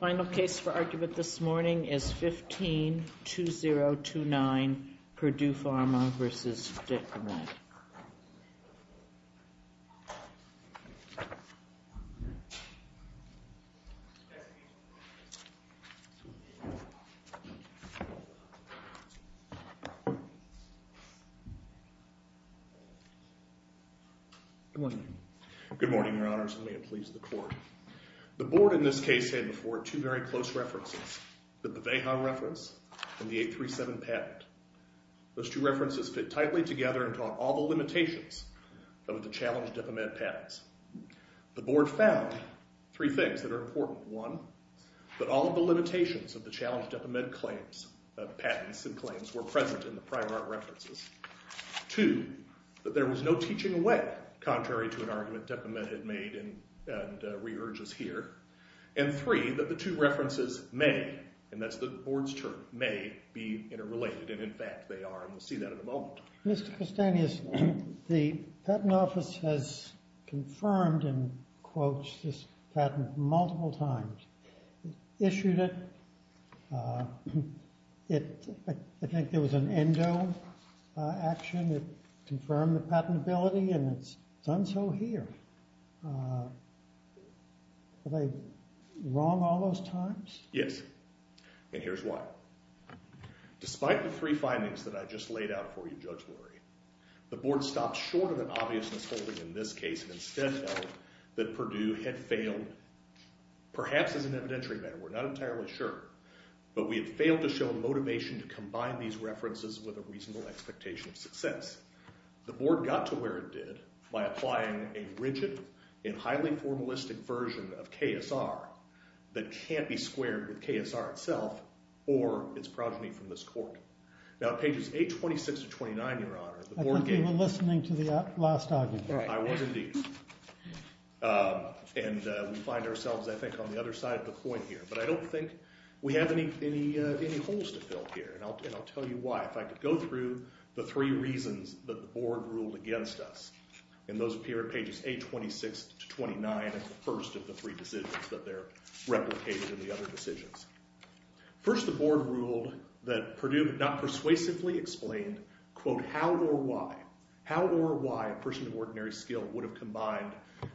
Final case for argument this morning is 15-2029 Purdue Pharma v. Depomed. Good morning. Good morning, Your Honors, and may it please the Court. The Board in this case had before it two very close references, the Beveha reference and the 837 patent. Those two references fit tightly together and taught all the limitations of the challenge Depomed patents. The Board found three things that are important. One, that all of the limitations of the challenge Depomed claims, patents and claims, were present in the prior art references. Two, that there was no teaching away, contrary to an argument Depomed had made and re-urges here. And three, that the two references may, and that's the Board's term, may be interrelated. And in fact they are, and we'll see that in a moment. Mr. Castanhas, the Patent Office has confirmed and quoted this patent multiple times. It issued it. It, I think there was an endo action that confirmed the patentability and it's done so here. Are they wrong all those times? Yes. And here's why. Despite the three findings that I just laid out for you, Judge Lurie, the Board stopped short of an obvious mis-holding in this case and instead felt that Purdue had failed, perhaps as an evidentiary matter, we're not entirely sure, but we had failed to show motivation to combine these references with a reasonable expectation of success. The Board got to where it did by applying a rigid and highly formalistic version of KSR that can't be squared with KSR itself or its progeny from this court. Now at pages 826 to 829, Your Honor, the Board gave... I think you were listening to the last argument. I was indeed. And we find ourselves, I think, on the other side of the point here. But I don't think we have any holes to fill here, and I'll tell you why. If I could go through the three reasons that the Board ruled against us, and those appear at pages 826 to 829, that's the first of the three decisions that they're replicated in the other decisions. First, the Board ruled that Purdue had not persuasively explained, quote, how or why, how or why a person of ordinary skill would have combined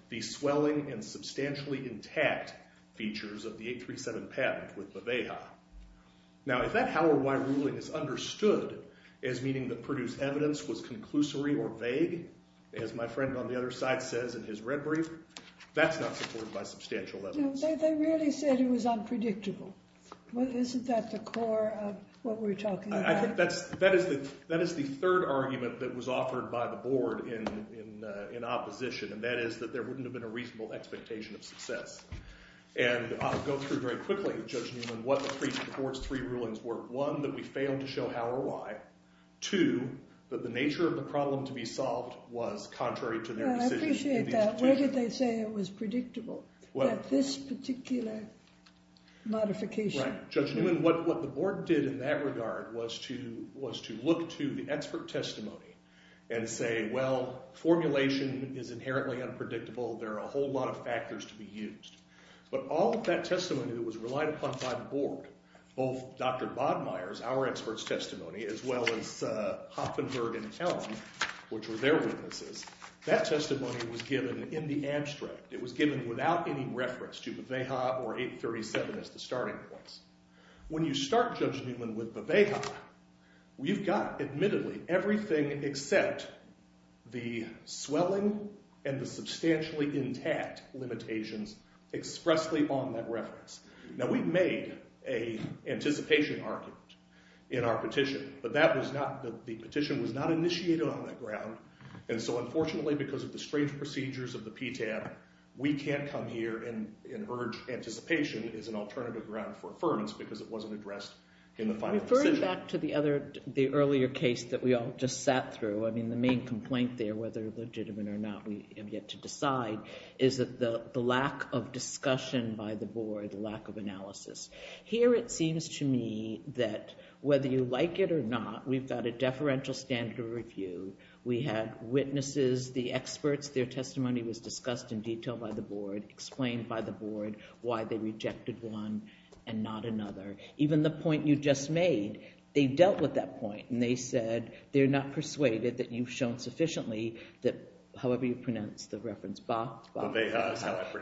the swelling and substantially intact features of the 837 patent with the Veja. Now, if that how or why ruling is understood as meaning that Purdue's evidence was conclusory or vague, as my friend on the other side says in his red brief, that's not supported by substantial evidence. They really said it was unpredictable. Isn't that the core of what we're talking about? That is the third argument that was offered by the Board in opposition, and that is that there wouldn't have been a reasonable expectation of success. And I'll go through very quickly, Judge Newman, what the Board's three rulings were. One, that we failed to show how or why. Two, that the nature of the problem to be solved was contrary to their decision. I appreciate that. But where did they say it was predictable, that this particular modification? Right. Judge Newman, what the Board did in that regard was to look to the expert testimony and say, well, formulation is inherently unpredictable. There are a whole lot of factors to be used. But all of that testimony that was relied upon by the Board, both Dr. Bodmeier's, our expert's testimony, as well as Hoppenberg and Elm, which were their witnesses, that testimony was given in the abstract. It was given without any reference to Veveha or 837 as the starting points. When you start, Judge Newman, with Veveha, you've got, admittedly, everything except the swelling and the substantially intact limitations expressly on that reference. Now, we've made an anticipation argument in our petition. But the petition was not initiated on that ground. And so, unfortunately, because of the strange procedures of the PTAB, we can't come here and urge anticipation as an alternative ground for affirmance because it wasn't addressed in the final decision. Referring back to the earlier case that we all just sat through, I mean, the main complaint there, whether legitimate or not, we have yet to decide, is the lack of discussion by the Board, the lack of analysis. Here it seems to me that whether you like it or not, we've got a deferential standard of review. We had witnesses, the experts, their testimony was discussed in detail by the Board, explained by the Board why they rejected one and not another. Even the point you just made, they dealt with that point. And they said they're not persuaded that you've shown sufficiently that, however you pronounce the reference,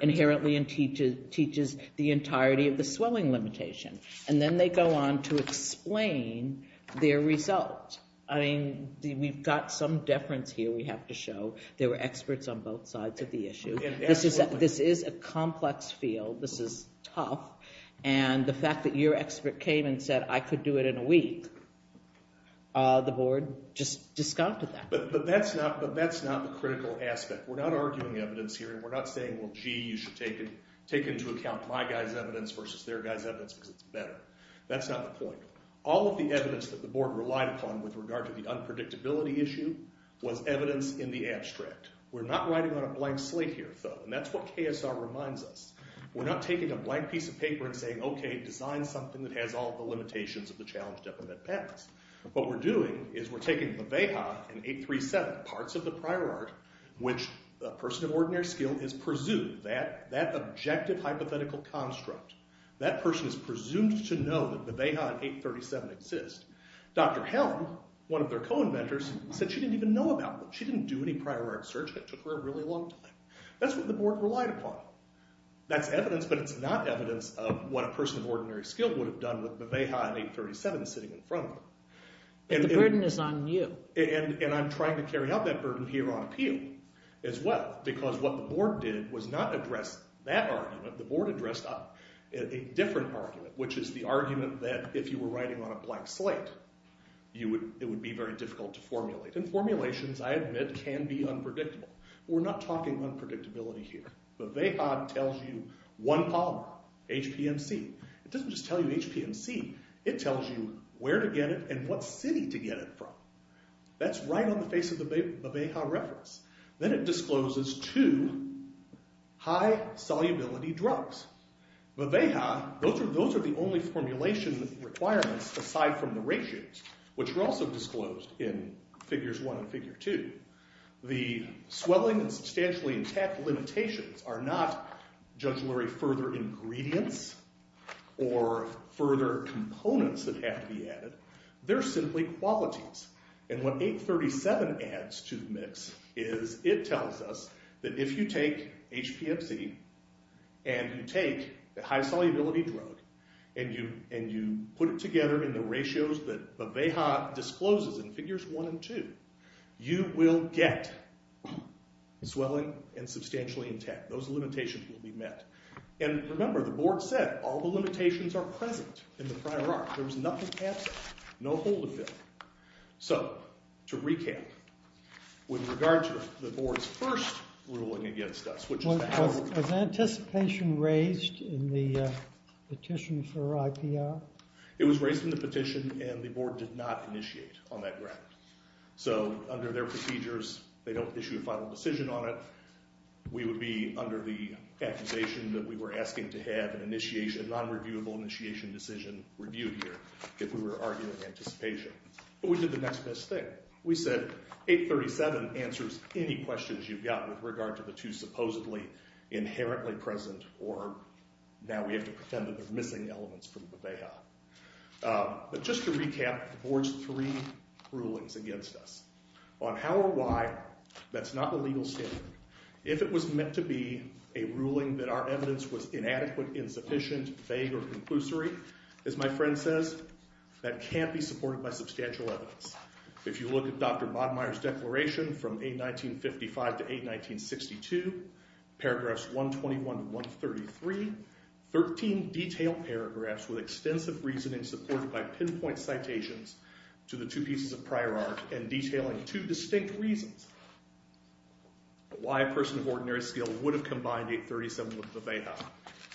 inherently teaches the entirety of the swelling limitation. And then they go on to explain their result. I mean, we've got some deference here we have to show. There were experts on both sides of the issue. This is a complex field. This is tough. And the fact that your expert came and said, I could do it in a week, the Board just discounted that. But that's not the critical aspect. We're not arguing evidence here, and we're not saying, well, gee, you should take into account my guy's evidence versus their guy's evidence because it's better. That's not the point. All of the evidence that the Board relied upon with regard to the unpredictability issue was evidence in the abstract. We're not writing on a blank slate here, though. And that's what KSR reminds us. We're not taking a blank piece of paper and saying, OK, design something that has all of the limitations of the challenge to implement patents. What we're doing is we're taking Beveja and 837, parts of the prior art, which a person of ordinary skill is presumed, that objective hypothetical construct, that person is presumed to know that Beveja and 837 exist. Dr. Helm, one of their co-inventors, said she didn't even know about them. She didn't do any prior art search. That took her a really long time. That's what the Board relied upon. That's evidence, but it's not evidence of what a person of ordinary skill would have done with Beveja and 837 sitting in front of them. And the burden is on you. And I'm trying to carry out that burden here on appeal as well because what the Board did was not address that argument. The Board addressed a different argument, which is the argument that if you were writing on a blank slate, it would be very difficult to formulate. And formulations, I admit, can be unpredictable. We're not talking unpredictability here. Beveja tells you one polymer, HPMC. It doesn't just tell you HPMC. It tells you where to get it and what city to get it from. That's right on the face of the Beveja reference. Then it discloses two high-solubility drugs. Beveja, those are the only formulation requirements aside from the ratios, which were also disclosed in Figures 1 and Figure 2. The swelling and substantially intact limitations are not jugglery further ingredients or further components that have to be added. They're simply qualities. And what 837 adds to the mix is it tells us that if you take HPMC and you take a high-solubility drug and you put it together in the ratios that Beveja discloses in Figures 1 and 2, you will get swelling and substantially intact. Those limitations will be met. And remember, the board said all the limitations are present in the prior art. There was nothing absent, no hold of them. So to recap, with regard to the board's first ruling against us, which is the algorithm. Was anticipation raised in the petition for IPR? It was raised in the petition, and the board did not initiate on that ground. So under their procedures, they don't issue a final decision on it. We would be under the accusation that we were asking to have an initiation, a non-reviewable initiation decision reviewed here if we were arguing anticipation. But we did the next best thing. We said 837 answers any questions you've got with regard to the two supposedly inherently present or now we have to pretend that they're missing elements from Beveja. But just to recap, the board's three rulings against us. On how or why, that's not the legal standard. If it was meant to be a ruling that our evidence was inadequate, insufficient, vague, or conclusory, as my friend says, that can't be supported by substantial evidence. If you look at Dr. Bodmeier's declaration from 819.55 to 819.62, paragraphs 121 to 133, 13 detailed paragraphs with extensive reasoning supported by pinpoint citations to the two pieces of prior art and detailing two distinct reasons why a person of ordinary skill would have combined 837 with Beveja,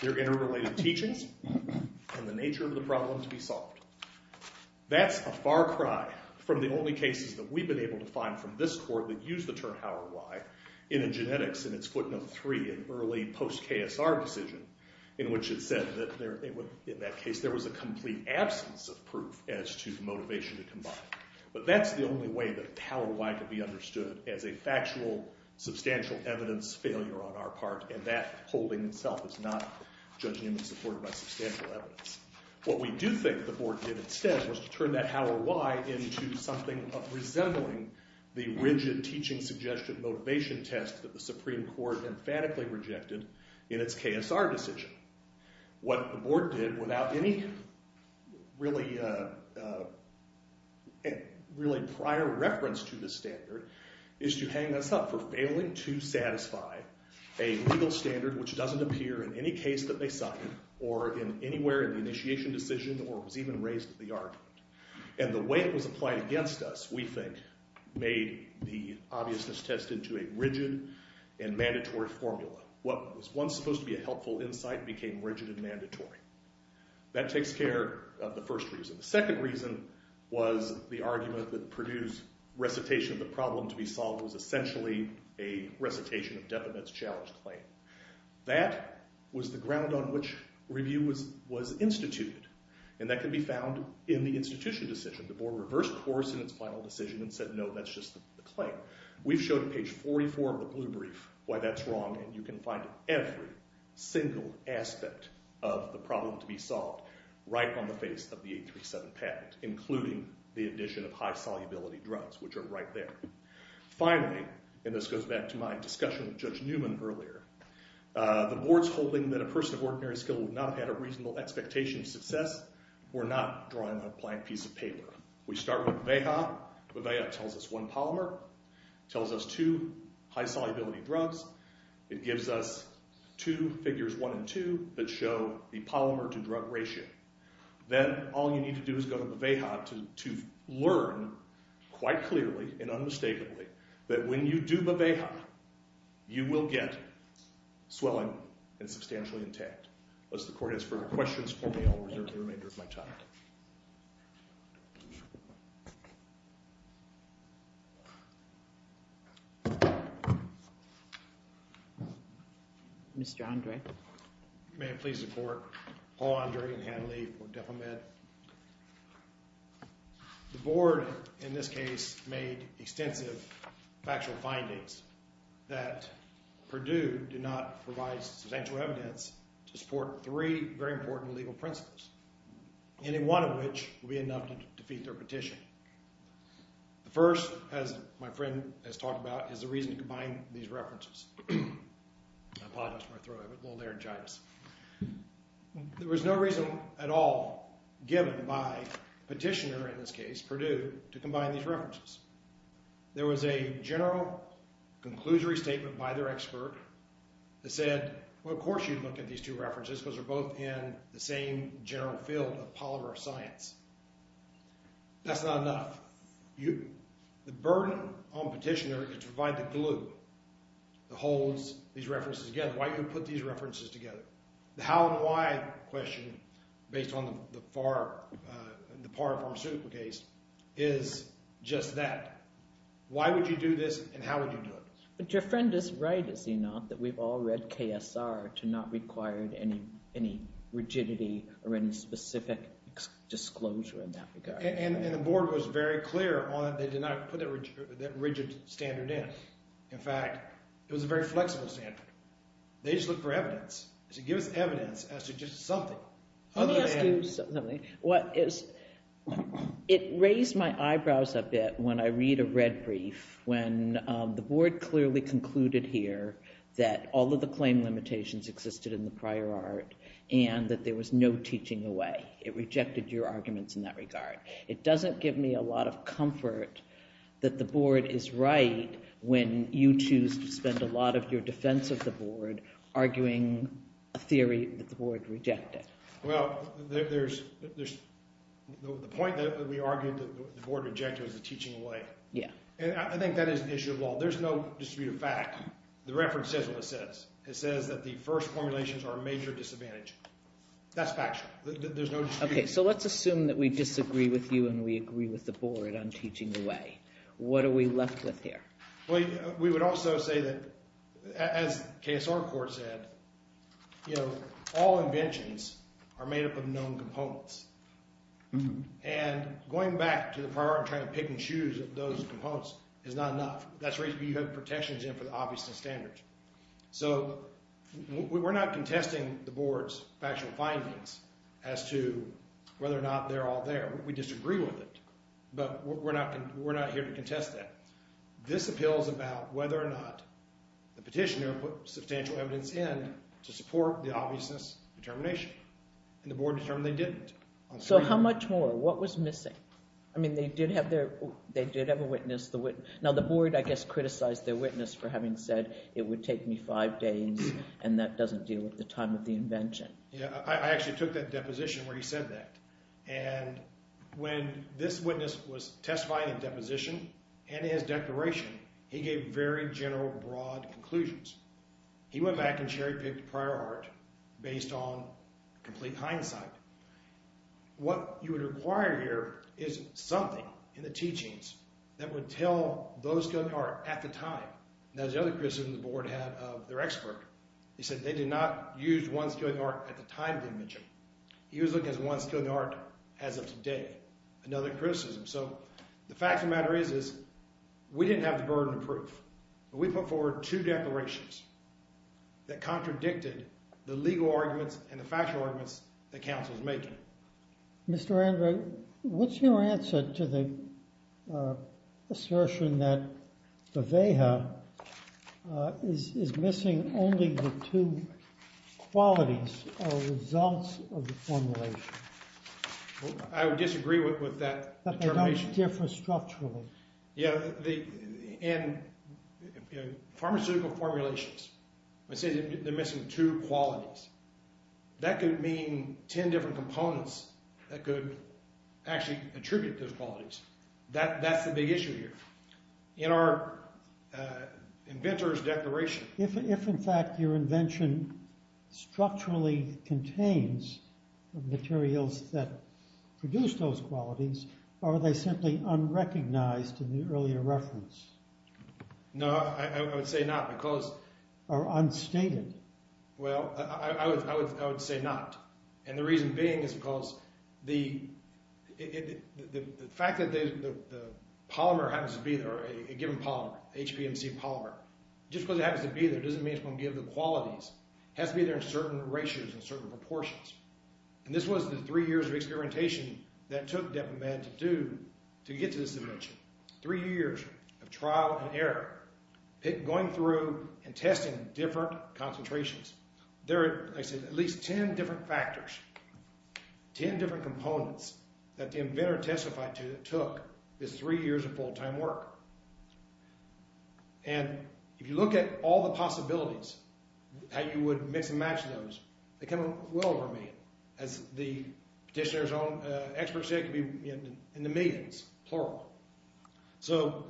their interrelated teachings and the nature of the problem to be solved. That's a far cry from the only cases that we've been able to find from this court that use the term how or why in a genetics in its footnote 3, an early post-KSR decision, in which it said that in that case there was a complete absence of proof as to the motivation to combine. But that's the only way that how or why could be understood as a factual, substantial evidence failure on our part, and that holding itself is not judging and supported by substantial evidence. What we do think the board did instead was to turn that how or why into something of resembling the rigid teaching suggestion motivation test that the Supreme Court emphatically rejected in its KSR decision. What the board did, without any really prior reference to this standard, is to hang us up for failing to satisfy a legal standard which doesn't appear in any case that they cite or in anywhere in the initiation decision or was even raised at the argument. And the way it was applied against us, we think, made the obviousness test into a rigid and mandatory formula. What was once supposed to be a helpful insight became rigid and mandatory. That takes care of the first reason. The second reason was the argument that Purdue's recitation of the problem to be solved was essentially a recitation of Defamette's challenge claim. That was the ground on which review was instituted, and that can be found in the institution decision. The board reversed course in its final decision and said, no, that's just the claim. We've shown on page 44 of the blue brief why that's wrong, and you can find every single aspect of the problem to be solved right on the face of the 837 patent, including the addition of high-solubility drugs, which are right there. Finally, and this goes back to my discussion with Judge Newman earlier, the board's holding that a person of ordinary skill would not have had a reasonable expectation of success were not drawing a blank piece of paper. We start with the VAHA. The VAHA tells us one polymer, tells us two high-solubility drugs. It gives us two figures, one and two, that show the polymer-to-drug ratio. Then all you need to do is go to the VAHA to learn quite clearly and unmistakably that when you do the VAHA, you will get swelling and substantially intact. Unless the court has further questions for me, I'll reserve the remainder of my time. Mr. Andre? May it please the court, Paul Andre and Han Lee for Defamed. The board, in this case, made extensive factual findings that Purdue did not provide substantial evidence to support three very important legal principles, any one of which would be enough to defeat their petition. The first, as my friend has talked about, is the reason to combine these references. I apologize for my throat. I have a little laryngitis. There was no reason at all given by Petitioner, in this case, Purdue, to combine these references. There was a general conclusory statement by their expert that said, well, of course you'd look at these two references because they're both in the same general field of polymer science. That's not enough. The burden on Petitioner is to provide the glue that holds these references together. Why do you put these references together? The how and why question, based on the PAR pharmaceutical case, is just that. Why would you do this and how would you do it? But your friend is right, is he not, that we've all read KSR to not require any rigidity or any specific disclosure in that regard. And the board was very clear on that they did not put that rigid standard in. In fact, it was a very flexible standard. They just looked for evidence. They said, give us evidence as to just something. Let me ask you something. It raised my eyebrows a bit when I read a red brief when the board clearly concluded here that all of the claim limitations existed in the prior art and that there was no teaching away. It rejected your arguments in that regard. It doesn't give me a lot of comfort that the board is right when you choose to spend a lot of your defense of the board arguing a theory that the board rejected. Well, the point that we argued that the board rejected was the teaching away. And I think that is an issue of law. There's no distributive fact. The reference says what it says. It says that the first formulations are a major disadvantage. That's factual. Okay, so let's assume that we disagree with you and we agree with the board on teaching away. What are we left with here? We would also say that, as KSR Court said, all inventions are made up of known components. And going back to the prior art and trying to pick and choose those components is not enough. That's where you have protections in for the obviousness standards. So we're not contesting the board's factual findings as to whether or not they're all there. We disagree with it, but we're not here to contest that. This appeals about whether or not the petitioner put substantial evidence in to support the obviousness determination. And the board determined they didn't. So how much more? What was missing? I mean they did have their – they did have a witness. Now the board, I guess, criticized their witness for having said it would take me five days and that doesn't deal with the time of the invention. Yeah, I actually took that deposition where he said that. And when this witness was testifying in deposition and in his declaration, he gave very general, broad conclusions. He went back and cherry-picked prior art based on complete hindsight. What you would require here is something in the teachings that would tell those skilled in art at the time. Now there's the other criticism the board had of their expert. He said they did not use one skilled in art at the time of the invention. He was looking at one skilled in art as of today, another criticism. So the fact of the matter is, is we didn't have the burden of proof. We put forward two declarations that contradicted the legal arguments and the factual arguments that counsel is making. Mr. Andrew, what's your answer to the assertion that the VEA is missing only the two qualities or results of the formulation? I would disagree with that determination. But they don't differ structurally. Yeah, and pharmaceutical formulations. They say they're missing two qualities. That could mean ten different components that could actually attribute those qualities. That's the big issue here. In our inventor's declaration. If in fact your invention structurally contains materials that produce those qualities, are they simply unrecognized in the earlier reference? No, I would say not because... Or unstated. Well, I would say not. And the reason being is because the fact that the polymer happens to be a given polymer, HPMC polymer. Just because it happens to be there doesn't mean it's going to give the qualities. It has to be there in certain ratios and certain proportions. And this was the three years of experimentation that it took Depp and Mann to do to get to this invention. Three years of trial and error. Going through and testing different concentrations. There are, like I said, at least ten different factors. Ten different components that the inventor testified to that took this three years of full-time work. And if you look at all the possibilities, how you would mix and match those, they kind of well over a million. As the petitioner's own expert said, it could be in the millions, plural. So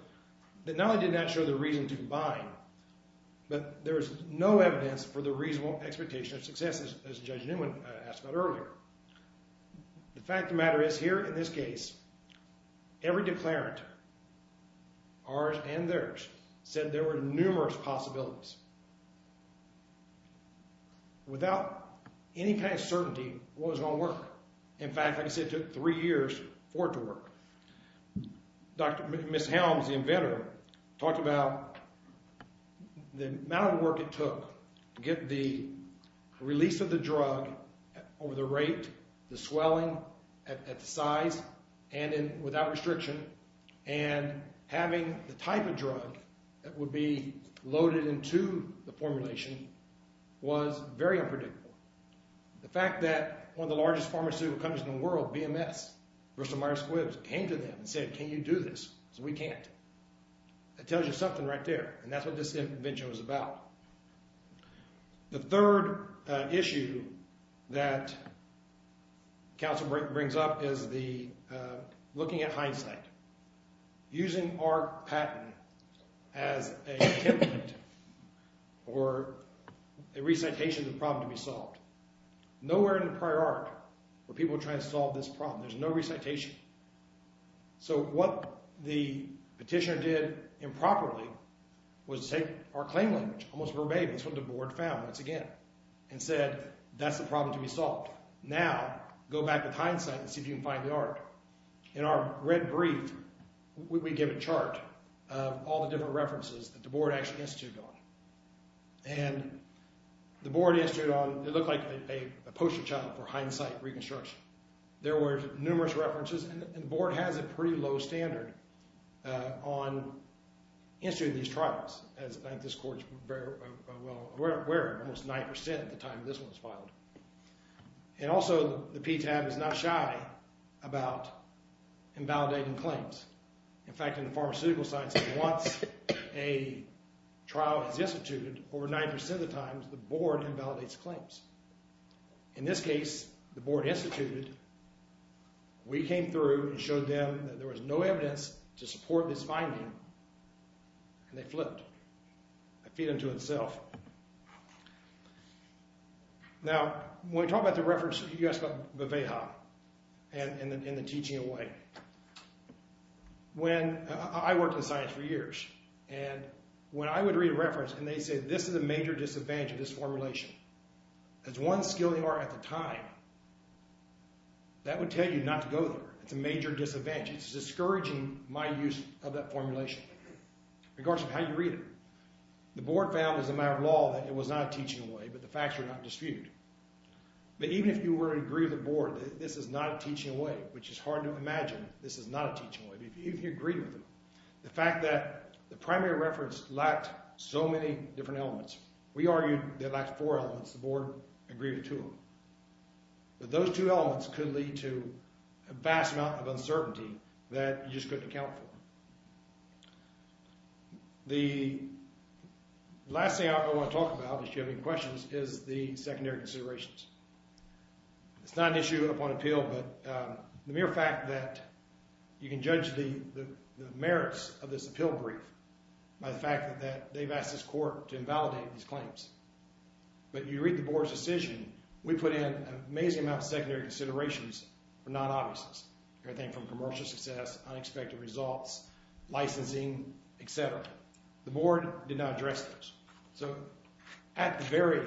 not only did it not show the reason to combine, but there is no evidence for the reasonable expectation of success, as Judge Newman asked about earlier. The fact of the matter is, here in this case, every declarant, ours and theirs, said there were numerous possibilities. Without any kind of certainty what was going to work. In fact, like I said, it took three years for it to work. Dr. Ms. Helms, the inventor, talked about the amount of work it took to get the release of the drug over the rate, the swelling, at the size, and without restriction. And having the type of drug that would be loaded into the formulation was very unpredictable. The fact that one of the largest pharmaceutical companies in the world, BMS, Bristol-Myers Squibbs, came to them and said, can you do this? We can't. It tells you something right there. And that's what this invention was about. The third issue that counsel brings up is looking at hindsight. Using our patent as a template or a recitation of the problem to be solved. Nowhere in the prior art were people trying to solve this problem. There's no recitation. So what the petitioner did improperly was take our claim language, almost verbatim, that's what the board found once again, and said, that's the problem to be solved. Now, go back with hindsight and see if you can find the art. In our red brief, we give a chart of all the different references that the board actually instituted on. And the board instituted on, it looked like a poster child for hindsight reconstruction. There were numerous references, and the board has a pretty low standard on instituting these trials, as I think this court is very well aware of. Almost 9% at the time this one was filed. And also, the PTAB is not shy about invalidating claims. In fact, in the pharmaceutical science, once a trial is instituted, over 9% of the time, the board invalidates claims. In this case, the board instituted. We came through and showed them that there was no evidence to support this finding. And they flipped. That feed into itself. Now, when we talk about the reference, you ask about Beveha and the teaching away. When I worked in science for years, and when I would read a reference, and they said, this is a major disadvantage of this formulation. As one skill you are at the time, that would tell you not to go there. It's a major disadvantage. It's discouraging my use of that formulation, regardless of how you read it. The board found, as a matter of law, that it was not a teaching away, but the facts were not disputed. But even if you were to agree with the board that this is not a teaching away, which is hard to imagine, this is not a teaching away. But if you agree with them, the fact that the primary reference lacked so many different elements. We argued that it lacked four elements. The board agreed to them. But those two elements could lead to a vast amount of uncertainty that you just couldn't account for. The last thing I want to talk about, if you have any questions, is the secondary considerations. It's not an issue upon appeal, but the mere fact that you can judge the merits of this appeal brief by the fact that they've asked this court to invalidate these claims. But you read the board's decision, we put in an amazing amount of secondary considerations for non-obviousness. Everything from commercial success, unexpected results, licensing, etc. The board did not address those. So at the very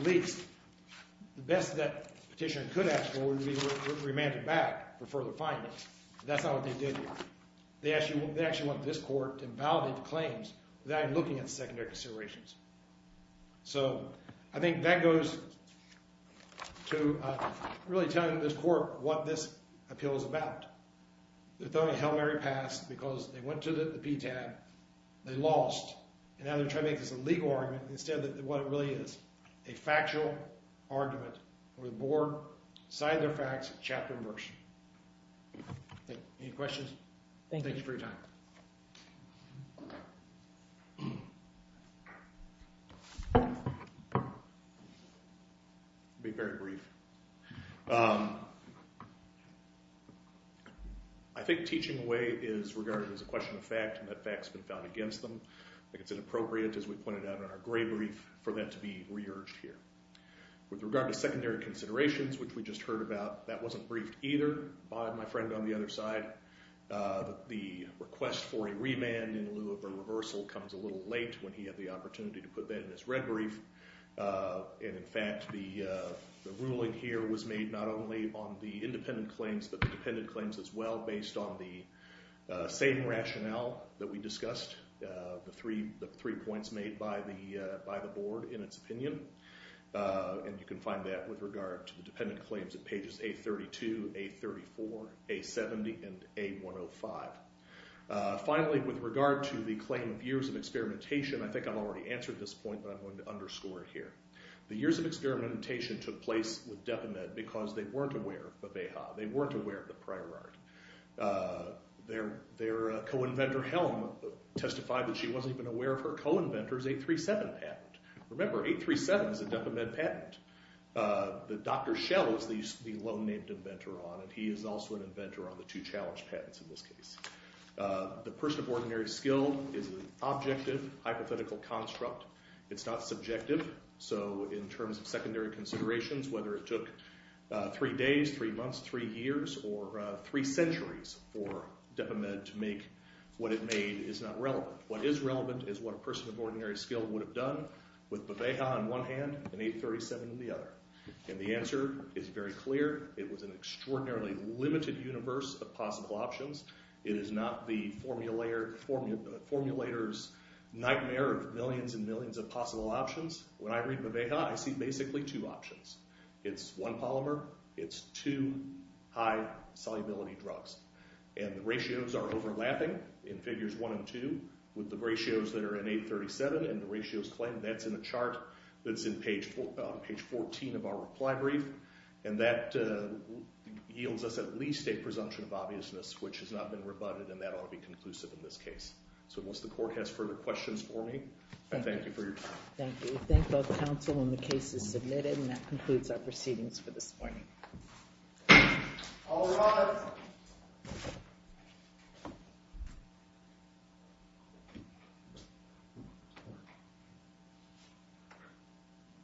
least, the best that petitioner could ask for would be remanded back for further findings. But that's not what they did. They actually want this court to invalidate the claims without even looking at the secondary considerations. So I think that goes to really telling this court what this appeal is about. They're throwing a Hail Mary pass because they went to the PTAB, they lost. And now they're trying to make this a legal argument instead of what it really is. A factual argument where the board cited their facts, chapter and verse. Any questions? Thank you for your time. I'll be very brief. I think teaching away is regarded as a question of fact, and that fact's been found against them. I think it's inappropriate, as we pointed out in our gray brief, for that to be re-urged here. With regard to secondary considerations, which we just heard about, that wasn't briefed either by my friend on the other side. The request for a remand in lieu of a reversal comes a little late when he had the opportunity to put that in his red brief. And in fact, the ruling here was made not only on the independent claims, but the dependent claims as well, based on the same rationale that we discussed, the three points made by the board in its opinion. And you can find that with regard to the dependent claims at pages A32, A34, A70, and A105. Finally, with regard to the claim of years of experimentation, I think I've already answered this point, but I'm going to underscore it here. The years of experimentation took place with Depamed because they weren't aware of Bebeja. They weren't aware of the prior art. Their co-inventor, Helm, testified that she wasn't even aware of her co-inventor's 837 patent. Remember, 837 is a Depamed patent that Dr. Schell is the lone named inventor on, and he is also an inventor on the two challenge patents in this case. The person of ordinary skill is an objective, hypothetical construct. It's not subjective, so in terms of secondary considerations, whether it took three days, three months, three years, or three centuries for Depamed to make what it made is not relevant. What is relevant is what a person of ordinary skill would have done with Bebeja on one hand and 837 on the other. And the answer is very clear. It was an extraordinarily limited universe of possible options. It is not the formulator's nightmare of millions and millions of possible options. When I read Bebeja, I see basically two options. It's one polymer. It's two high-solubility drugs. And the ratios are overlapping in figures one and two with the ratios that are in 837, and the ratios claim that's in a chart that's on page 14 of our reply brief. And that yields us at least a presumption of obviousness, which has not been rebutted, and that ought to be conclusive in this case. So unless the court has further questions for me, I thank you for your time. Thank you. We thank both counsel when the case is submitted, and that concludes our proceedings for this morning. All rise.